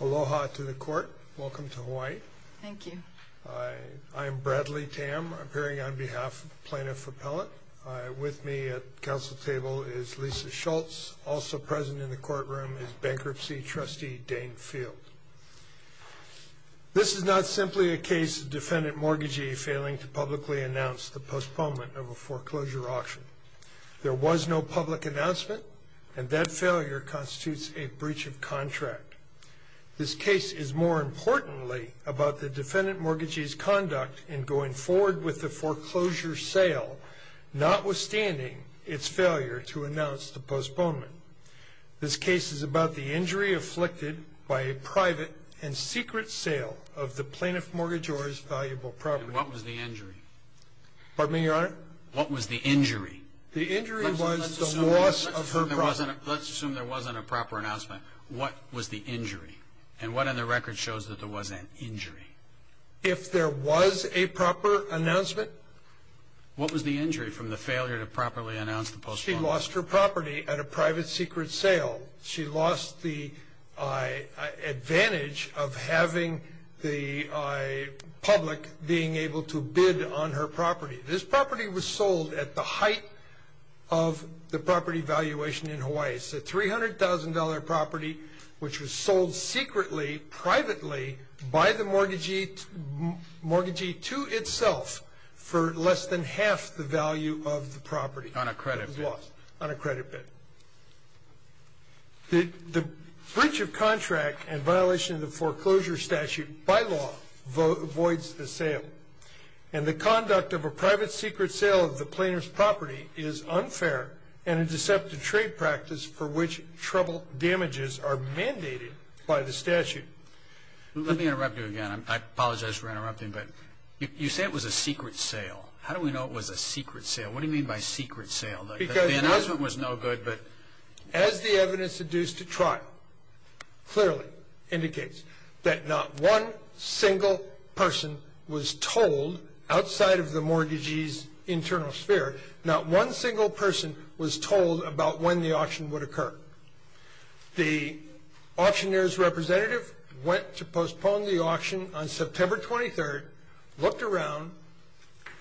Aloha to the court. Welcome to Hawaii. Thank you. I am Bradley Tam, appearing on behalf of Plaintiff Appellate. With me at council table is Lisa Schultz. Also present in the courtroom is Bankruptcy Trustee Dane Field. This is not simply a case of defendant mortgagee failing to publicly announce the postponement of a foreclosure auction. There was no public announcement, and that failure constitutes a breach of contract. This case is more importantly about the defendant mortgagee's conduct in going forward with the foreclosure sale, notwithstanding its failure to announce the postponement. This case is about the injury afflicted by a private and secret sale of the plaintiff mortgagee's valuable property. And what was the injury? Pardon me, Your Honor? What was the injury? The injury was the loss of her property. Let's assume there wasn't a proper announcement. What was the injury? And what on the record shows that there was an injury? If there was a proper announcement? What was the injury from the failure to properly announce the postponement? She lost her property at a private secret sale. She lost the advantage of having the public being able to bid on her property. This property was sold at the height of the property valuation in Hawaii. It's a $300,000 property which was sold secretly, privately, by the mortgagee to itself for less than half the value of the property. On a credit bid? On a credit bid. The breach of contract and violation of the foreclosure statute by law voids the sale. And the conduct of a private secret sale of the plaintiff's property is unfair and a deceptive trade practice for which trouble damages are mandated by the statute. Let me interrupt you again. I apologize for interrupting, but you say it was a secret sale. How do we know it was a secret sale? What do you mean by secret sale? Because the announcement was no good, but... outside of the mortgagee's internal sphere, not one single person was told about when the auction would occur. The auctioneer's representative went to postpone the auction on September 23rd, looked around,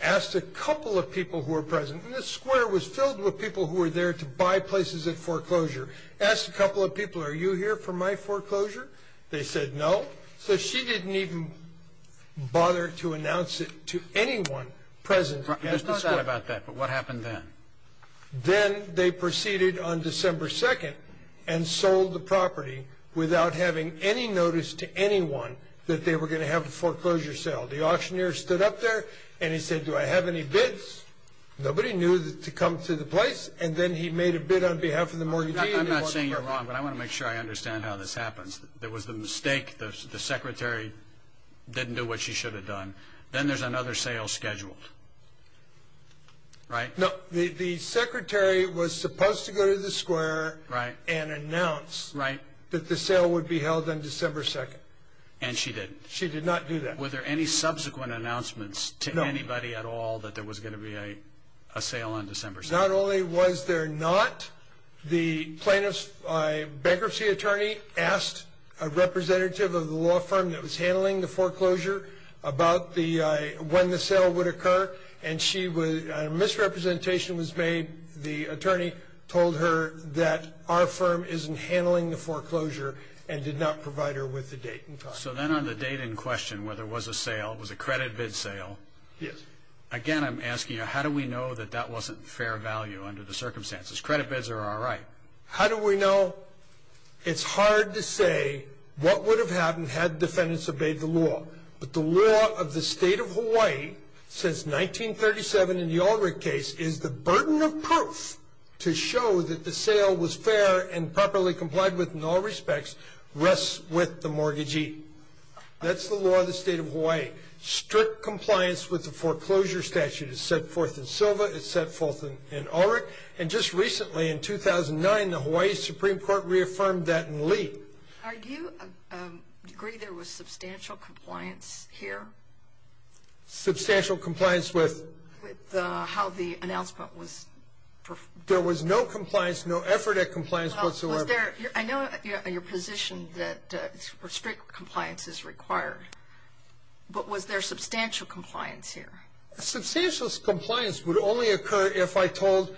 asked a couple of people who were present. And this square was filled with people who were there to buy places at foreclosure. Asked a couple of people, are you here for my foreclosure? They said no. So she didn't even bother to announce it to anyone present. Yes, but what happened then? Then they proceeded on December 2nd and sold the property without having any notice to anyone that they were going to have a foreclosure sale. The auctioneer stood up there and he said, do I have any bids? Nobody knew to come to the place. And then he made a bid on behalf of the mortgagee. I'm not saying you're wrong, but I want to make sure I understand how this happens. There was the mistake, the secretary didn't do what she should have done. Then there's another sale scheduled, right? No, the secretary was supposed to go to the square and announce that the sale would be held on December 2nd. And she didn't. She did not do that. Were there any subsequent announcements to anybody at all that there was going to be a sale on December 2nd? Not only was there not, the bankruptcy attorney asked a representative of the law firm that was handling the foreclosure about when the sale would occur. And a misrepresentation was made. The attorney told her that our firm isn't handling the foreclosure and did not provide her with the date. So then on the date in question where there was a sale, it was a credit bid sale. Yes. Again, I'm asking you, how do we know that that wasn't fair value under the circumstances? Credit bids are all right. How do we know? It's hard to say what would have happened had defendants obeyed the law. But the law of the state of Hawaii since 1937 in the Ulrich case is the burden of proof to show that the sale was fair and properly complied with in all respects rests with the mortgagee. That's the law of the state of Hawaii. Strict compliance with the foreclosure statute is set forth in Silva. It's set forth in Ulrich. And just recently in 2009, the Hawaii Supreme Court reaffirmed that in Lee. Do you agree there was substantial compliance here? Substantial compliance with? With how the announcement was? There was no compliance, no effort at compliance whatsoever. I know your position that strict compliance is required, but was there substantial compliance here? Substantial compliance would only occur if I told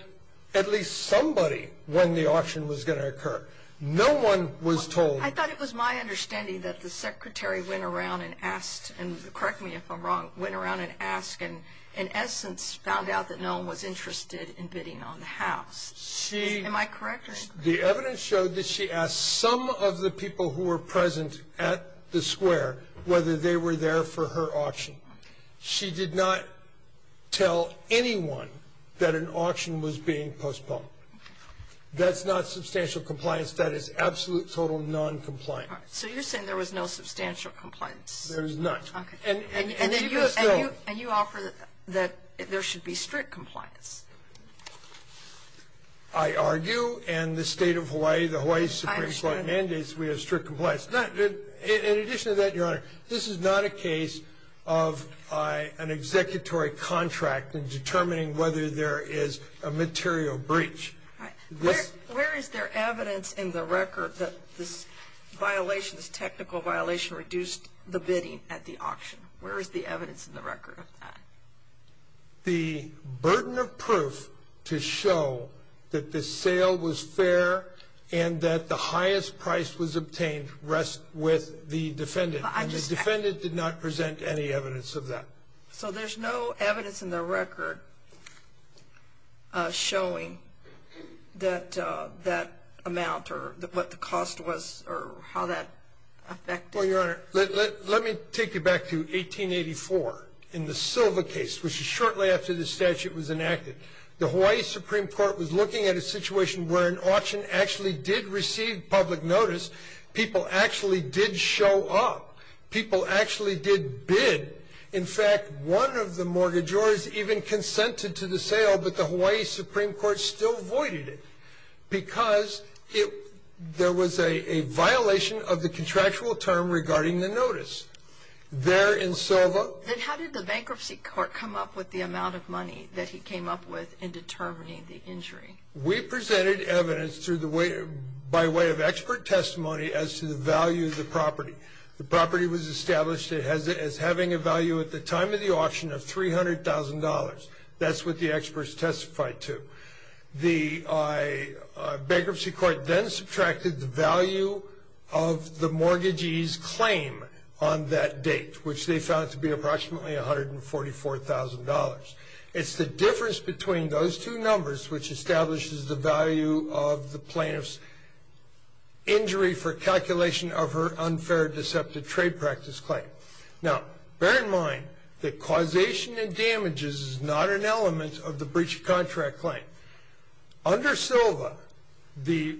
at least somebody when the auction was going to occur. No one was told. I thought it was my understanding that the secretary went around and asked, and correct me if I'm wrong, went around and asked and in essence found out that no one was interested in bidding on the house. Am I correct? The evidence showed that she asked some of the people who were present at the square whether they were there for her auction. She did not tell anyone that an auction was being postponed. That's not substantial compliance. That is absolute, total noncompliance. All right. So you're saying there was no substantial compliance. There was none. And you offer that there should be strict compliance. I argue in the state of Hawaii, the Hawaii Supreme Court mandates we have strict compliance. In addition to that, Your Honor, this is not a case of an executory contract in determining whether there is a material breach. All right. Where is there evidence in the record that this violation, this technical violation, reduced the bidding at the auction? Where is the evidence in the record of that? The burden of proof to show that the sale was fair and that the highest price was obtained rests with the defendant. And the defendant did not present any evidence of that. So there's no evidence in the record showing that amount or what the cost was or how that affected? Well, Your Honor, let me take you back to 1884 in the Silva case, which is shortly after the statute was enacted. The Hawaii Supreme Court was looking at a situation where an auction actually did receive public notice. People actually did show up. People actually did bid. In fact, one of the mortgagors even consented to the sale, but the Hawaii Supreme Court still voided it because there was a violation of the contractual term regarding the notice. There in Silva. Then how did the bankruptcy court come up with the amount of money that he came up with in determining the injury? We presented evidence by way of expert testimony as to the value of the property. The property was established as having a value at the time of the auction of $300,000. That's what the experts testified to. The bankruptcy court then subtracted the value of the mortgagee's claim on that date, which they found to be approximately $144,000. It's the difference between those two numbers which establishes the value of the plaintiff's injury for calculation of her unfair deceptive trade practice claim. Bear in mind that causation and damages is not an element of the breach of contract claim. Under Silva, the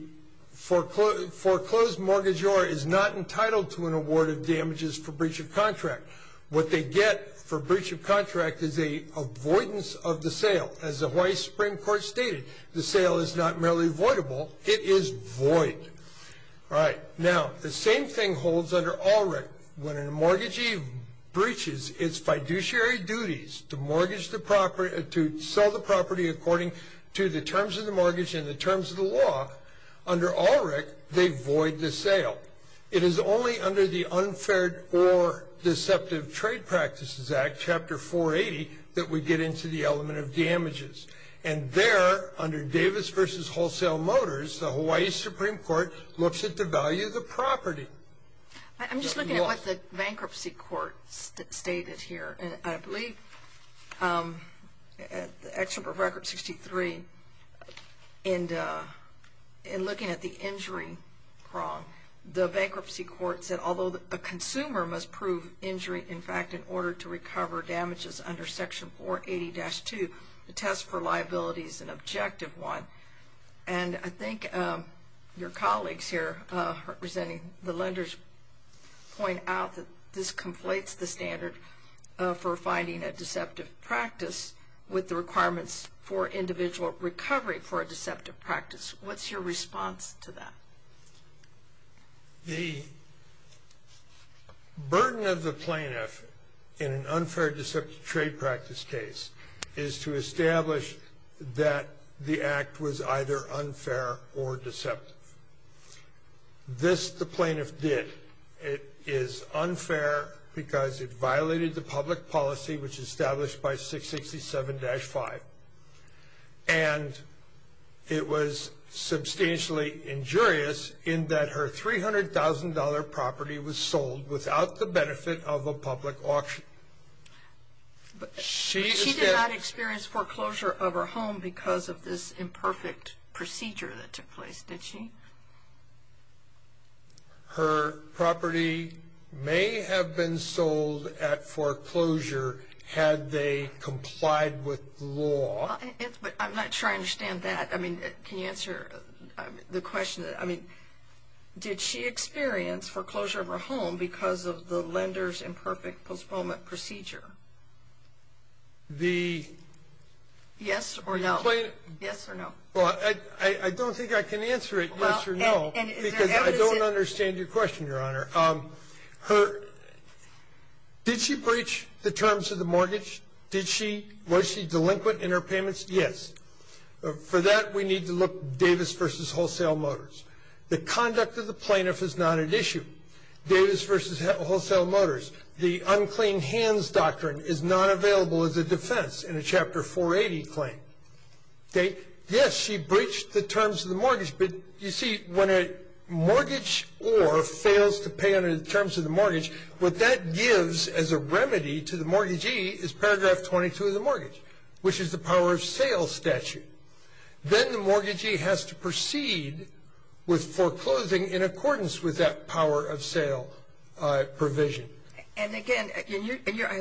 foreclosed mortgagor is not entitled to an award of damages for breach of contract. What they get for breach of contract is an avoidance of the sale. As the Hawaii Supreme Court stated, the sale is not merely avoidable. It is void. Now, the same thing holds under ALRIC. When a mortgagee breaches its fiduciary duties to sell the property according to the terms of the mortgage and the terms of the law, under ALRIC, they void the sale. It is only under the Unfair or Deceptive Trade Practices Act, Chapter 480, that we get into the element of damages. And there, under Davis v. Wholesale Motors, the Hawaii Supreme Court looks at the value of the property. I'm just looking at what the bankruptcy court stated here. And I believe, actually for record 63, in looking at the injury prong, the bankruptcy court said although the consumer must prove injury, in fact, in order to recover damages under Section 480-2, the test for liability is an objective one. And I think your colleagues here, representing the lenders, point out that this conflates the standard for finding a deceptive practice with the requirements for individual recovery for a deceptive practice. What's your response to that? The burden of the plaintiff in an unfair deceptive trade practice case is to establish that the act was either unfair or deceptive. This the plaintiff did. It is unfair because it violated the public policy, which is established by 667-5. And it was substantially injurious in that her $300,000 property was sold without the benefit of a public auction. She did not experience foreclosure of her home because of this imperfect procedure that took place, did she? Her property may have been sold at foreclosure had they complied with the law. I'm not sure I understand that. I mean, can you answer the question? I mean, did she experience foreclosure of her home because of the lender's imperfect postponement procedure? Yes or no? Yes or no. Well, I don't think I can answer it yes or no because I don't understand your question, Your Honor. Did she breach the terms of the mortgage? Was she delinquent in her payments? Yes. For that, we need to look Davis v. Wholesale Motors. The conduct of the plaintiff is not at issue. Davis v. Wholesale Motors, the unclean hands doctrine is not available as a defense in a Chapter 480 claim. Yes, she breached the terms of the mortgage, but you see, when a mortgageor fails to pay under the terms of the mortgage, what that gives as a remedy to the mortgagee is paragraph 22 of the mortgage, which is the power of sale statute. Then the mortgagee has to proceed with foreclosing in accordance with that power of sale provision. And, again, I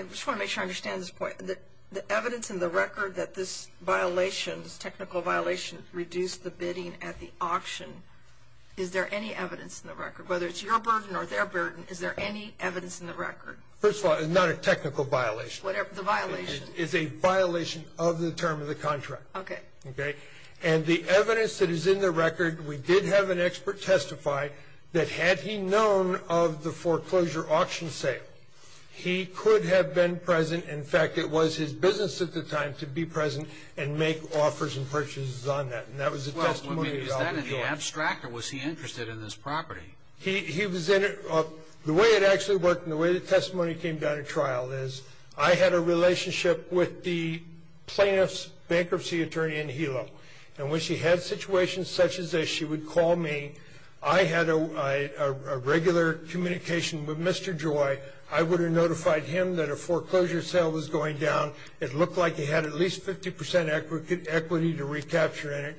just want to make sure I understand this point. The evidence in the record that this violation, this technical violation, reduced the bidding at the auction, is there any evidence in the record? Whether it's your burden or their burden, is there any evidence in the record? First of all, it's not a technical violation. The violation? It's a violation of the term of the contract. Okay. Okay. And the evidence that is in the record, we did have an expert testify that had he known of the foreclosure auction sale, he could have been present. In fact, it was his business at the time to be present and make offers and purchases on that. And that was a testimony. Well, I mean, is that in the abstract, or was he interested in this property? He was in it. Well, the way it actually worked and the way the testimony came down at trial is, I had a relationship with the plaintiff's bankruptcy attorney in Hilo. And when she had situations such as this, she would call me. I had a regular communication with Mr. Joy. I would have notified him that a foreclosure sale was going down. It looked like he had at least 50% equity to recapture in it.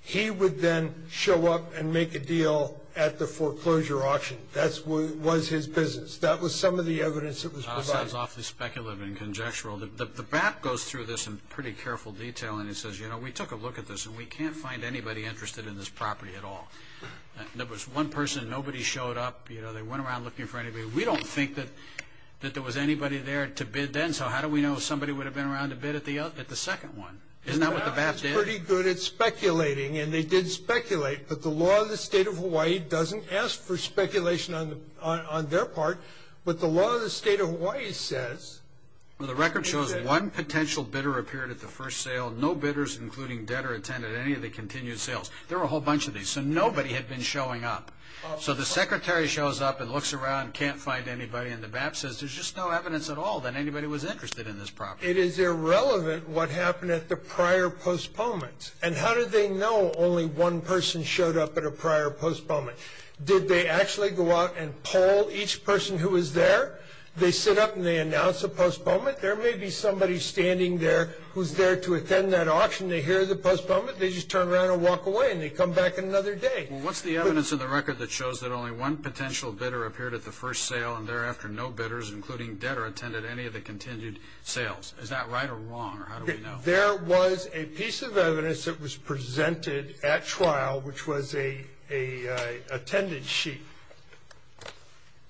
He would then show up and make a deal at the foreclosure auction. That was his business. That was some of the evidence that was provided. That sounds awfully speculative and conjectural. The BAP goes through this in pretty careful detail, and it says, you know, we took a look at this and we can't find anybody interested in this property at all. There was one person, nobody showed up. You know, they went around looking for anybody. We don't think that there was anybody there to bid then, so how do we know somebody would have been around to bid at the second one? Isn't that what the BAP did? The BAP is pretty good at speculating, and they did speculate. But the law of the state of Hawaii doesn't ask for speculation on their part. But the law of the state of Hawaii says. The record shows one potential bidder appeared at the first sale. No bidders, including debtor, attended any of the continued sales. There were a whole bunch of these. So nobody had been showing up. So the secretary shows up and looks around, can't find anybody, and the BAP says there's just no evidence at all that anybody was interested in this property. It is irrelevant what happened at the prior postponement. And how did they know only one person showed up at a prior postponement? Did they actually go out and poll each person who was there? They sit up and they announce a postponement. There may be somebody standing there who's there to attend that auction. They hear the postponement. They just turn around and walk away, and they come back another day. Well, what's the evidence in the record that shows that only one potential bidder appeared at the first sale and thereafter no bidders, including debtor, attended any of the continued sales? Is that right or wrong, or how do we know? There was a piece of evidence that was presented at trial, which was an attendance sheet.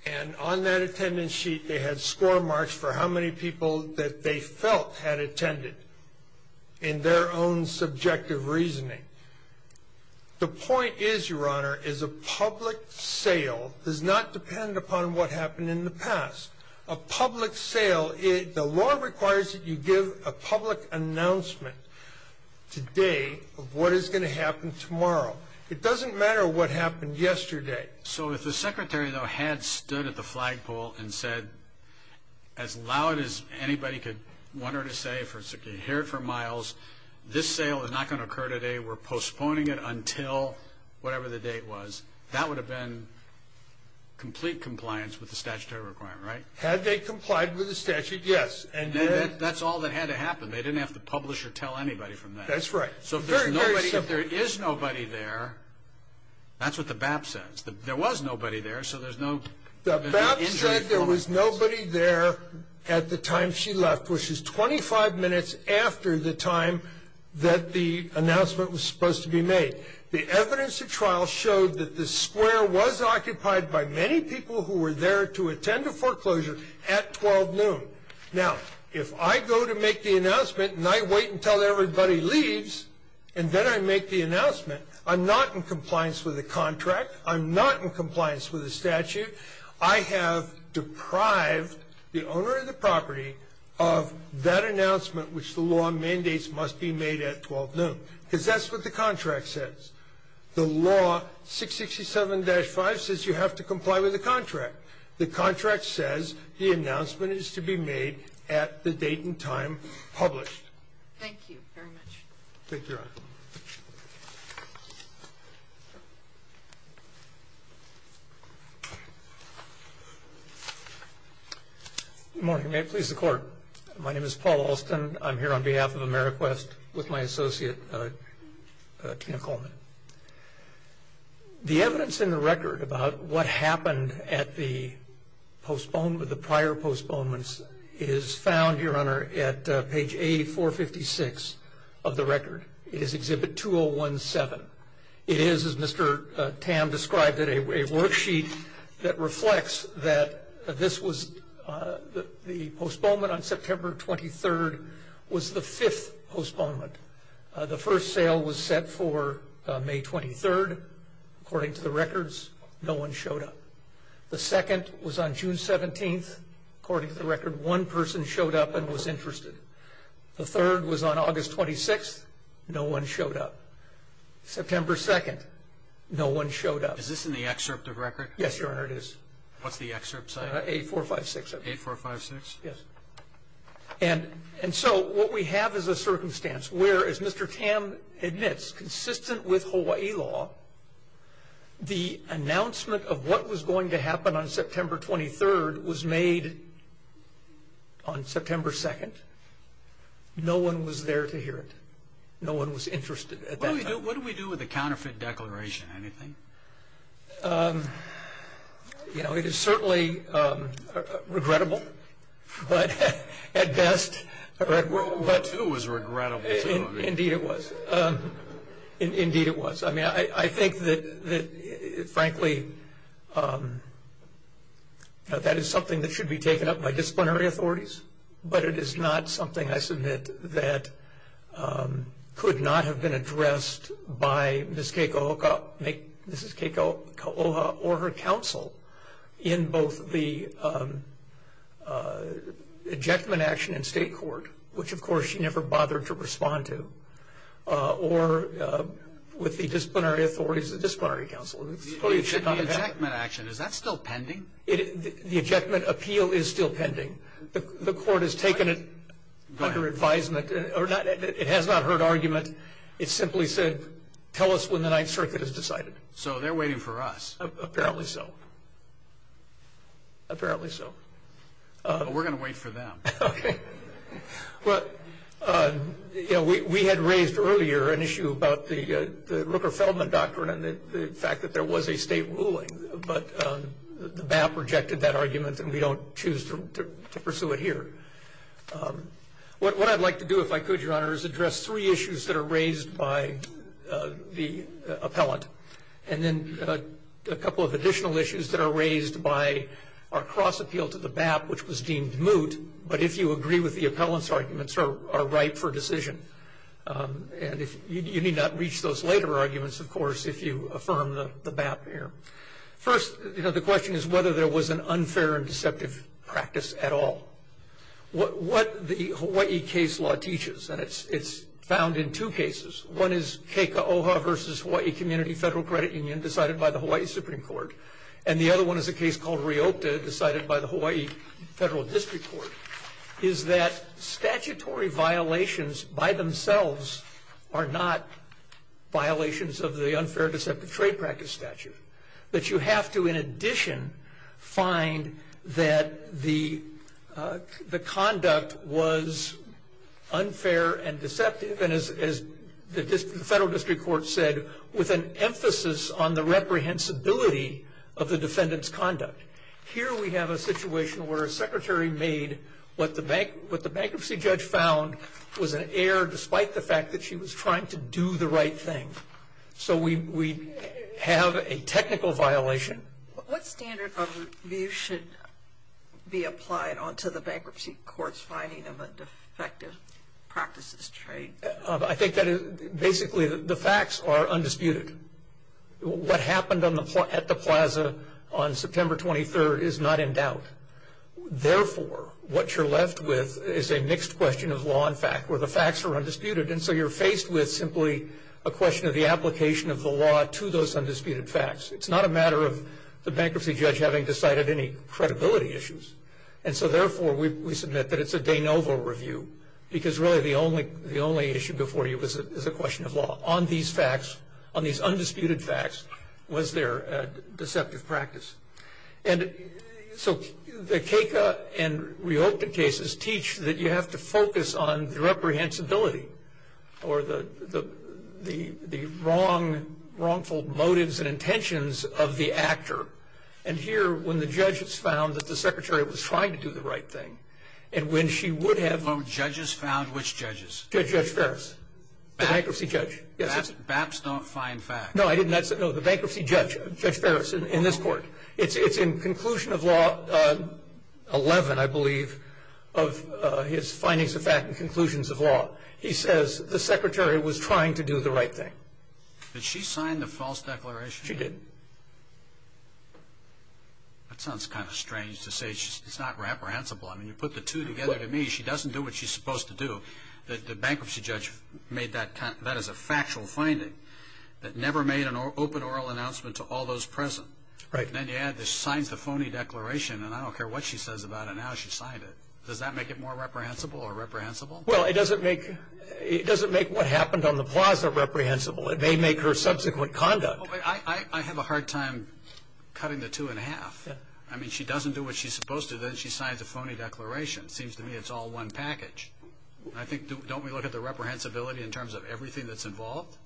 And on that attendance sheet they had score marks for how many people that they felt had attended in their own subjective reasoning. The point is, Your Honor, is a public sale does not depend upon what happened in the past. A public sale, the law requires that you give a public announcement today of what is going to happen tomorrow. It doesn't matter what happened yesterday. So if the Secretary, though, had stood at the flagpole and said as loud as anybody could want her to say, hear it for miles, this sale is not going to occur today, we're postponing it until whatever the date was, that would have been complete compliance with the statutory requirement, right? Had they complied with the statute, yes. And that's all that had to happen. They didn't have to publish or tell anybody from that. That's right. So if there is nobody there, that's what the BAP says. There was nobody there, so there's no injury. The BAP said there was nobody there at the time she left, which is 25 minutes after the time that the announcement was supposed to be made. The evidence of trial showed that the square was occupied by many people who were there to attend a foreclosure at 12 noon. Now, if I go to make the announcement and I wait until everybody leaves and then I make the announcement, I'm not in compliance with the contract. I'm not in compliance with the statute. I have deprived the owner of the property of that announcement, which the law mandates must be made at 12 noon, because that's what the contract says. The law 667-5 says you have to comply with the contract. The contract says the announcement is to be made at the date and time published. Thank you very much. Thank you, Your Honor. Good morning. May it please the Court. My name is Paul Alston. I'm here on behalf of AmeriQuest with my associate, Tina Coleman. The evidence in the record about what happened at the prior postponements is found, Your Honor, at page A456 of the record. It is Exhibit 2017. It is, as Mr. Tam described it, a worksheet that reflects that the postponement on September 23rd was the fifth postponement. The first sale was set for May 23rd. According to the records, no one showed up. The second was on June 17th. According to the record, one person showed up and was interested. The third was on August 26th. No one showed up. September 2nd, no one showed up. Is this in the excerpt of the record? Yes, Your Honor, it is. What's the excerpt say? A456, I believe. A456? Yes. And so what we have is a circumstance where, as Mr. Tam admits, consistent with Hawaii law, the announcement of what was going to happen on September 23rd was made on September 2nd. No one was there to hear it. No one was interested at that time. What do we do with the counterfeit declaration? Anything? You know, it is certainly regrettable, but at best. It was regrettable, too. Indeed it was. Indeed it was. I mean, I think that, frankly, that is something that should be taken up by disciplinary authorities, but it is not something, I submit, that could not have been addressed by Ms. Keiko Oha or her counsel in both the ejectment action in state court, which, of course, she never bothered to respond to, or with the disciplinary authorities, the disciplinary counsel. The ejectment action, is that still pending? The ejectment appeal is still pending. The court has taken it under advisement. It has not heard argument. It simply said, tell us when the Ninth Circuit has decided. So they're waiting for us. Apparently so. Apparently so. But we're going to wait for them. Okay. Well, you know, we had raised earlier an issue about the Rooker-Feldman doctrine and the fact that there was a state ruling, but the BAP rejected that argument and we don't choose to pursue it here. What I'd like to do, if I could, Your Honor, is address three issues that are raised by the appellant and then a couple of additional issues that are raised by our cross-appeal to the BAP, which was deemed moot, but if you agree with the appellant's arguments, are ripe for decision. And you need not reach those later arguments, of course, if you affirm the BAP here. First, you know, the question is whether there was an unfair and deceptive practice at all. What the Hawaii case law teaches, and it's found in two cases, one is Keiko'oha versus Hawaii Community Federal Credit Union decided by the Hawaii Supreme Court, and the other one is a case called Riopta decided by the Hawaii Federal District Court, is that statutory violations by themselves are not violations of the unfair deceptive trade practice statute, but you have to, in addition, find that the conduct was unfair and deceptive, and as the Federal District Court said, with an emphasis on the reprehensibility of the defendant's conduct. Here we have a situation where a secretary made what the bankruptcy judge found was an error, despite the fact that she was trying to do the right thing. So we have a technical violation. What standard of review should be applied onto the bankruptcy court's finding of a defective practices trade? I think that basically the facts are undisputed. What happened at the plaza on September 23rd is not in doubt. Therefore, what you're left with is a mixed question of law and fact, where the facts are undisputed, and so you're faced with simply a question of the application of the law to those undisputed facts. It's not a matter of the bankruptcy judge having decided any credibility issues, and so therefore we submit that it's a de novo review, because really the only issue before you is a question of law. On these facts, on these undisputed facts, was there a deceptive practice? And so the Keika and Riopta cases teach that you have to focus on the reprehensibility or the wrongful motives and intentions of the actor. And here, when the judge has found that the secretary was trying to do the right thing, and when she would have... So judges found which judges? Judge Ferris, the bankruptcy judge. BAPs don't find facts. No, I didn't say that. No, the bankruptcy judge, Judge Ferris, in this court. It's in conclusion of law 11, I believe, of his findings of fact and conclusions of law. He says the secretary was trying to do the right thing. Did she sign the false declaration? She did. That sounds kind of strange to say. It's not reprehensible. I mean, you put the two together to me. She doesn't do what she's supposed to do. The bankruptcy judge made that as a factual finding, but never made an open oral announcement to all those present. Right. And then you add that she signs the phony declaration, and I don't care what she says about it now, she signed it. Does that make it more reprehensible or reprehensible? Well, it doesn't make what happened on the plaza reprehensible. It may make her subsequent conduct. I have a hard time cutting the two in half. I mean, she doesn't do what she's supposed to do, then she signs a phony declaration. It seems to me it's all one package. Don't we look at the reprehensibility in terms of everything that's involved?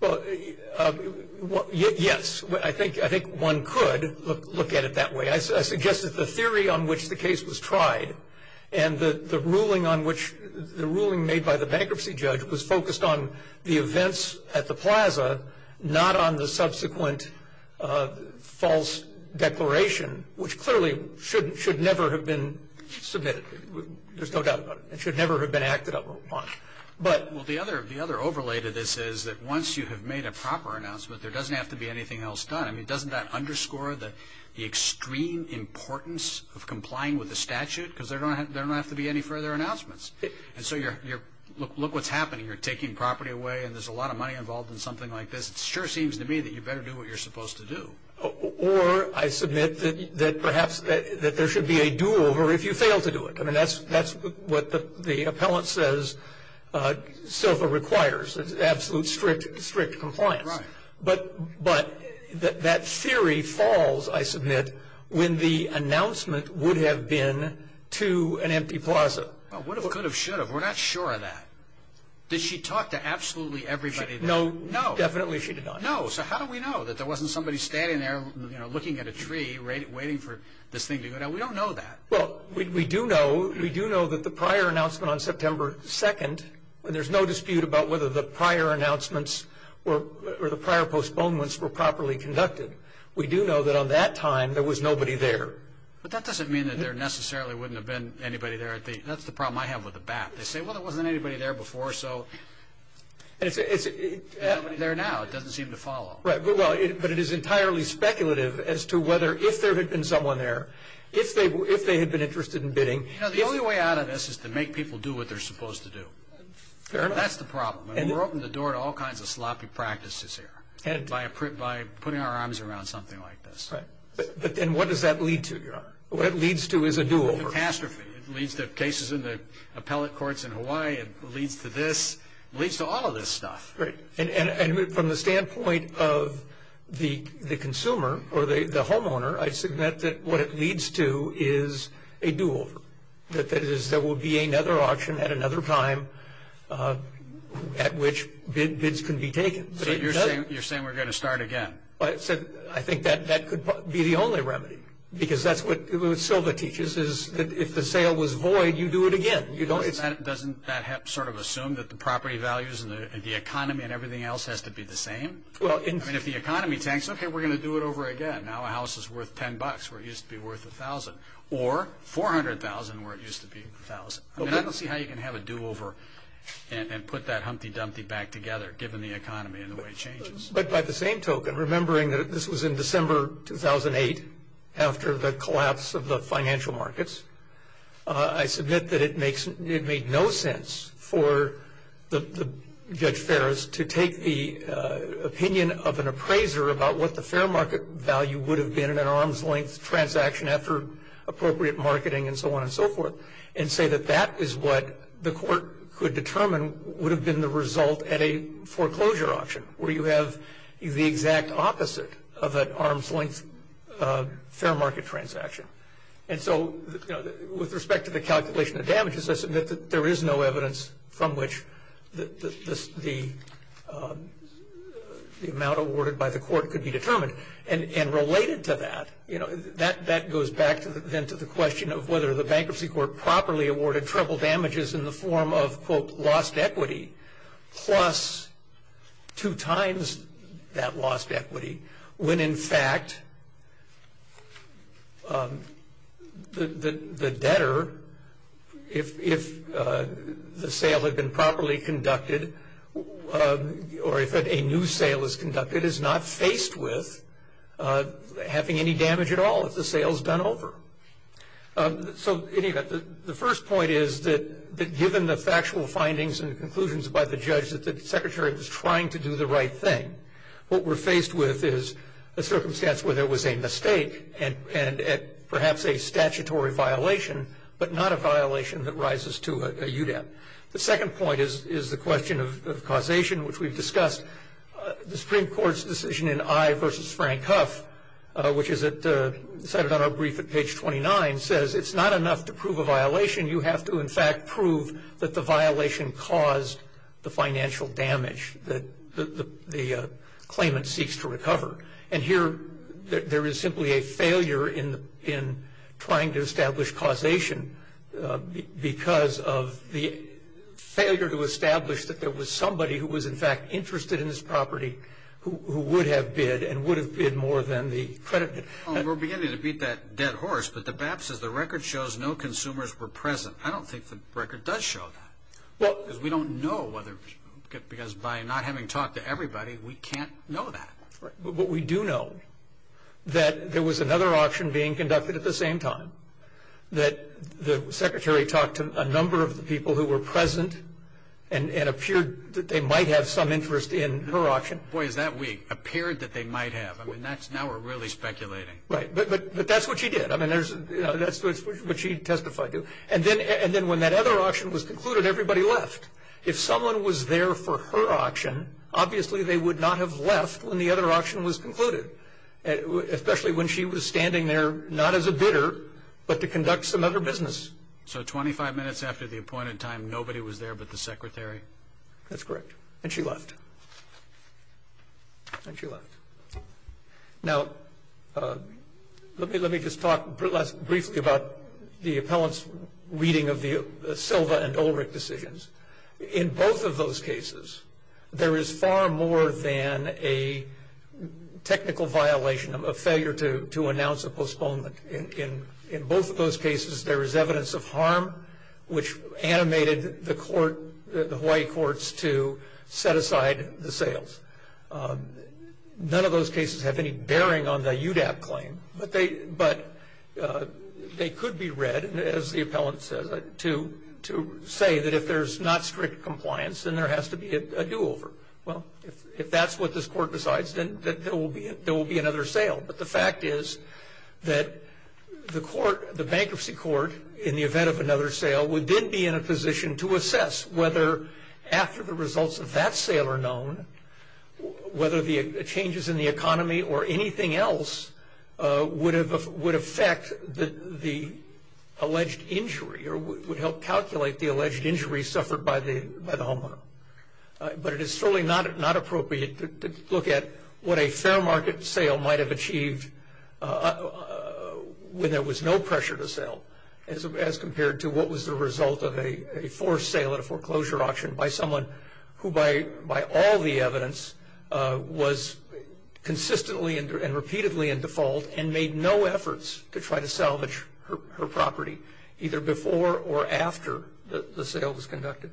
Well, yes. I think one could look at it that way. I suggest that the theory on which the case was tried and the ruling made by the bankruptcy judge was focused on the events at the plaza, not on the subsequent false declaration, which clearly should never have been submitted. There's no doubt about it. It should never have been acted upon. Well, the other overlay to this is that once you have made a proper announcement, there doesn't have to be anything else done. I mean, doesn't that underscore the extreme importance of complying with the statute? Because there don't have to be any further announcements. And so look what's happening. You're taking property away and there's a lot of money involved in something like this. It sure seems to me that you better do what you're supposed to do. Or I submit that perhaps there should be a do-over if you fail to do it. I mean, that's what the appellant says SILVA requires, absolute strict compliance. Right. But that theory falls, I submit, when the announcement would have been to an empty plaza. Well, it could have, should have. We're not sure of that. Did she talk to absolutely everybody there? No, definitely she did not. No. So how do we know that there wasn't somebody standing there, you know, looking at a tree, waiting for this thing to go down? We don't know that. Well, we do know that the prior announcement on September 2nd, there's no dispute about whether the prior announcements or the prior postponements were properly conducted. We do know that on that time there was nobody there. But that doesn't mean that there necessarily wouldn't have been anybody there. That's the problem I have with the BAP. They say, well, there wasn't anybody there before, so there's nobody there now. It doesn't seem to follow. Right. But it is entirely speculative as to whether if there had been someone there, if they had been interested in bidding. You know, the only way out of this is to make people do what they're supposed to do. Fair enough. That's the problem. And we're opening the door to all kinds of sloppy practices here by putting our arms around something like this. Right. But then what does that lead to? What it leads to is a do-over. It's a catastrophe. It leads to cases in the appellate courts in Hawaii. It leads to this. It leads to all of this stuff. Right. And from the standpoint of the consumer or the homeowner, I submit that what it leads to is a do-over. That is, there will be another auction at another time at which bids can be taken. So you're saying we're going to start again. I think that could be the only remedy because that's what Silva teaches is that if the sale was void, you do it again. Doesn't that sort of assume that the property values and the economy and everything else has to be the same? I mean, if the economy tanks, okay, we're going to do it over again. Now a house is worth $10 where it used to be worth $1,000 or $400,000 where it used to be $1,000. I don't see how you can have a do-over and put that humpty-dumpty back together given the economy and the way it changes. But by the same token, remembering that this was in December 2008 after the collapse of the financial markets, I submit that it made no sense for Judge Ferris to take the opinion of an appraiser about what the fair market value would have been in an arm's-length transaction after appropriate marketing and so on and so forth and say that that is what the court could determine would have been the result at a foreclosure auction where you have the exact opposite of an arm's-length fair market transaction. And so with respect to the calculation of damages, I submit that there is no evidence from which the amount awarded by the court could be determined. And related to that, that goes back then to the question of whether the bankruptcy court properly awarded triple damages in the form of, quote, lost equity plus two times that lost equity, when in fact the debtor, if the sale had been properly conducted or if a new sale is conducted, is not faced with having any damage at all if the sale is done over. So in any event, the first point is that given the factual findings and conclusions by the judge, that the Secretary was trying to do the right thing. What we're faced with is a circumstance where there was a mistake and perhaps a statutory violation, but not a violation that rises to a UDEP. The second point is the question of causation, which we've discussed. The Supreme Court's decision in I v. Frank Huff, which is cited on our brief at page 29, says it's not enough to prove a violation. You have to, in fact, prove that the violation caused the financial damage that the claimant seeks to recover. And here, there is simply a failure in trying to establish causation because of the failure to establish that there was somebody who was, in fact, interested in this property who would have bid and would have bid more than the creditor. We're beginning to beat that dead horse, but the BAP says the record shows no consumers were present. I don't think the record does show that because we don't know whether, because by not having talked to everybody, we can't know that. But we do know that there was another auction being conducted at the same time, that the Secretary talked to a number of the people who were present and it appeared that they might have some interest in her auction. Boy, is that weak. Appeared that they might have. Now we're really speculating. Right, but that's what she did. I mean, that's what she testified to. And then when that other auction was concluded, everybody left. If someone was there for her auction, obviously, they would not have left when the other auction was concluded, especially when she was standing there not as a bidder but to conduct some other business. So 25 minutes after the appointed time, nobody was there but the Secretary? That's correct. And she left. And she left. Now, let me just talk briefly about the appellant's reading of the Silva and Ulrich decisions. In both of those cases, there is far more than a technical violation, a failure to announce a postponement. In both of those cases, there is evidence of harm, which animated the court, the Hawaii courts, to set aside the sales. None of those cases have any bearing on the UDAP claim, but they could be read, as the appellant says, to say that if there's not strict compliance, then there has to be a do-over. Well, if that's what this court decides, then there will be another sale. But the fact is that the court, the bankruptcy court, in the event of another sale, would then be in a position to assess whether after the results of that sale are known, whether the changes in the economy or anything else would affect the alleged injury or would help calculate the alleged injury suffered by the homeowner. But it is certainly not appropriate to look at what a fair market sale might have achieved when there was no pressure to sell, as compared to what was the result of a forced sale at a foreclosure auction by someone who, by all the evidence, was consistently and repeatedly in default and made no efforts to try to salvage her property, either before or after the sale was conducted.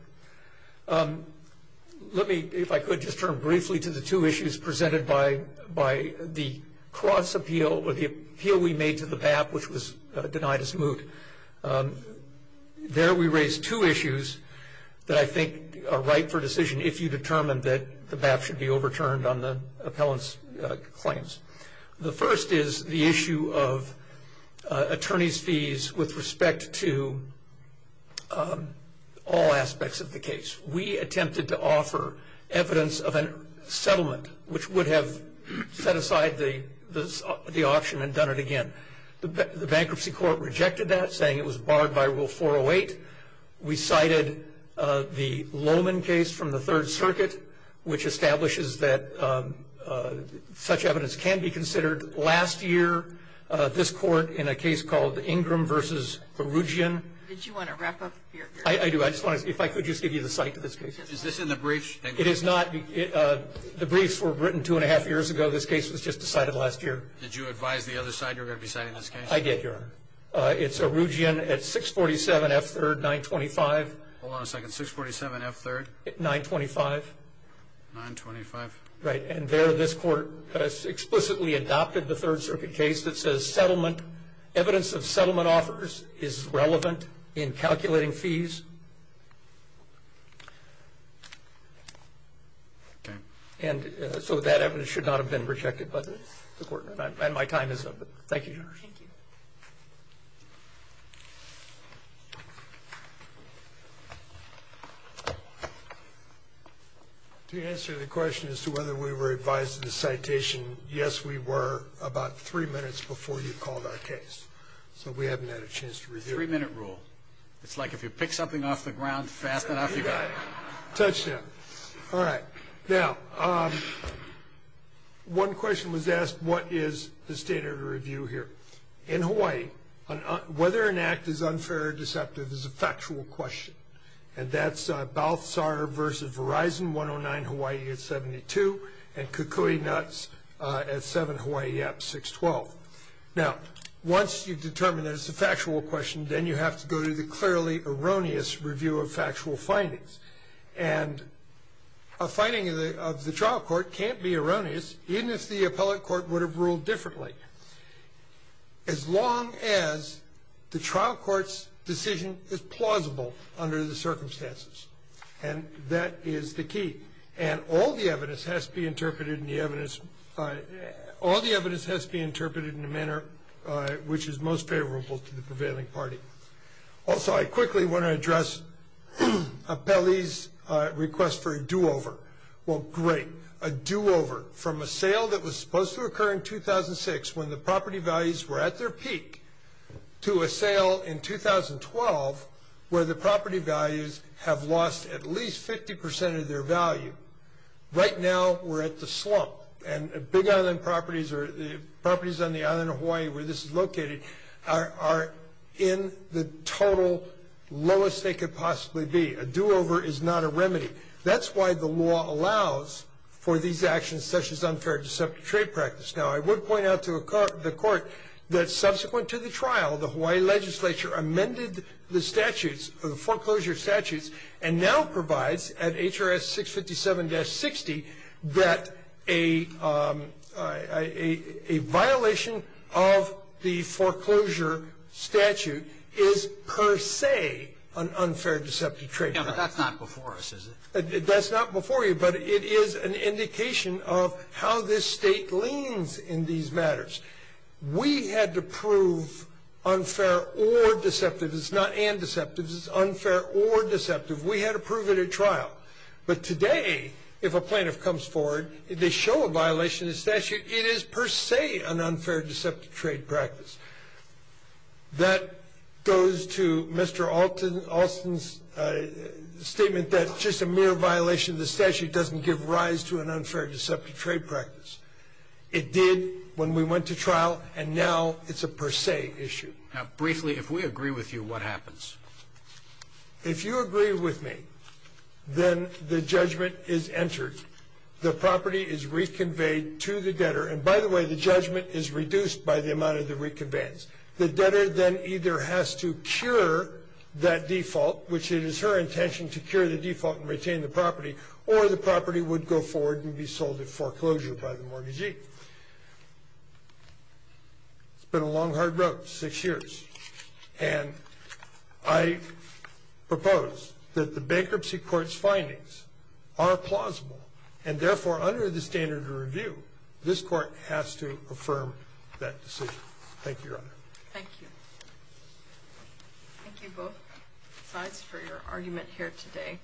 Let me, if I could, just turn briefly to the two issues presented by the cross-appeal or the appeal we made to the BAP, which was denied as moot. There we raised two issues that I think are right for decision if you determine that the BAP should be overturned on the appellant's claims. The first is the issue of attorneys' fees with respect to all aspects of the case. We attempted to offer evidence of a settlement, which would have set aside the auction and done it again. The bankruptcy court rejected that, saying it was barred by Rule 408. We cited the Lowman case from the Third Circuit, which establishes that such evidence can be considered. Last year, this court, in a case called Ingram v. Erugian. Did you want to wrap up? I do. I just wanted to see if I could just give you the site of this case. Is this in the briefs? It is not. The briefs were written two and a half years ago. This case was just decided last year. Did you advise the other side you were going to be citing this case? I did, Your Honor. It's Erugian at 647 F. 3rd, 925. Hold on a second. 647 F. 3rd? 925. 925. Right. And there, this court explicitly adopted the Third Circuit case that says evidence of settlement offers is relevant in calculating fees. Okay. And so that evidence should not have been rejected by the court. Thank you, Your Honor. Thank you. To answer the question as to whether we were advised of the citation, yes, we were about three minutes before you called our case. So we haven't had a chance to review it. Three-minute rule. It's like if you pick something off the ground fast enough, you got it. Touchdown. All right. Now, one question was asked, what is the standard of review here? In Hawaii, whether an act is unfair or deceptive is a factual question, and that's Balthazar versus Verizon, 109 Hawaii at 72, and Kukui Nuts at 7 Hawaii up, 612. Now, once you've determined that it's a factual question, then you have to go to the clearly erroneous review of factual findings. And a finding of the trial court can't be erroneous, even if the appellate court would have ruled differently, as long as the trial court's decision is plausible under the circumstances. And that is the key. And all the evidence has to be interpreted in the manner which is most favorable to the prevailing party. Also, I quickly want to address Apelli's request for a do-over. Well, great, a do-over from a sale that was supposed to occur in 2006 when the property values were at their peak to a sale in 2012 where the property values have lost at least 50% of their value. Right now, we're at the slump, and big island properties or properties on the island of Hawaii where this is located are in the total lowest they could possibly be. A do-over is not a remedy. That's why the law allows for these actions such as unfair trade practice. Now, I would point out to the court that subsequent to the trial, the Hawaii legislature amended the statutes, the foreclosure statutes, and now provides at HRS 657-60 that a violation of the foreclosure statute is per se an unfair deceptive trade practice. Yeah, but that's not before us, is it? That's not before you, but it is an indication of how this State leans in these matters. We had to prove unfair or deceptive. It's not and deceptive. It's unfair or deceptive. We had to prove it at trial. But today, if a plaintiff comes forward, they show a violation of the statute, it is per se an unfair deceptive trade practice. That goes to Mr. Alston's statement that just a mere violation of the statute doesn't give rise to an unfair deceptive trade practice. It did when we went to trial, and now it's a per se issue. Now, briefly, if we agree with you, what happens? If you agree with me, then the judgment is entered. The property is reconveyed to the debtor. And by the way, the judgment is reduced by the amount of the reconveyance. The debtor then either has to cure that default, which it is her intention to cure the default and retain the property, or the property would go forward and be sold at foreclosure by the mortgagee. It's been a long, hard road, six years. And I propose that the bankruptcy court's findings are plausible, and therefore, under the standard of review, this court has to affirm that decision. Thank you, Your Honor. Thank you. Thank you, both sides, for your argument here today.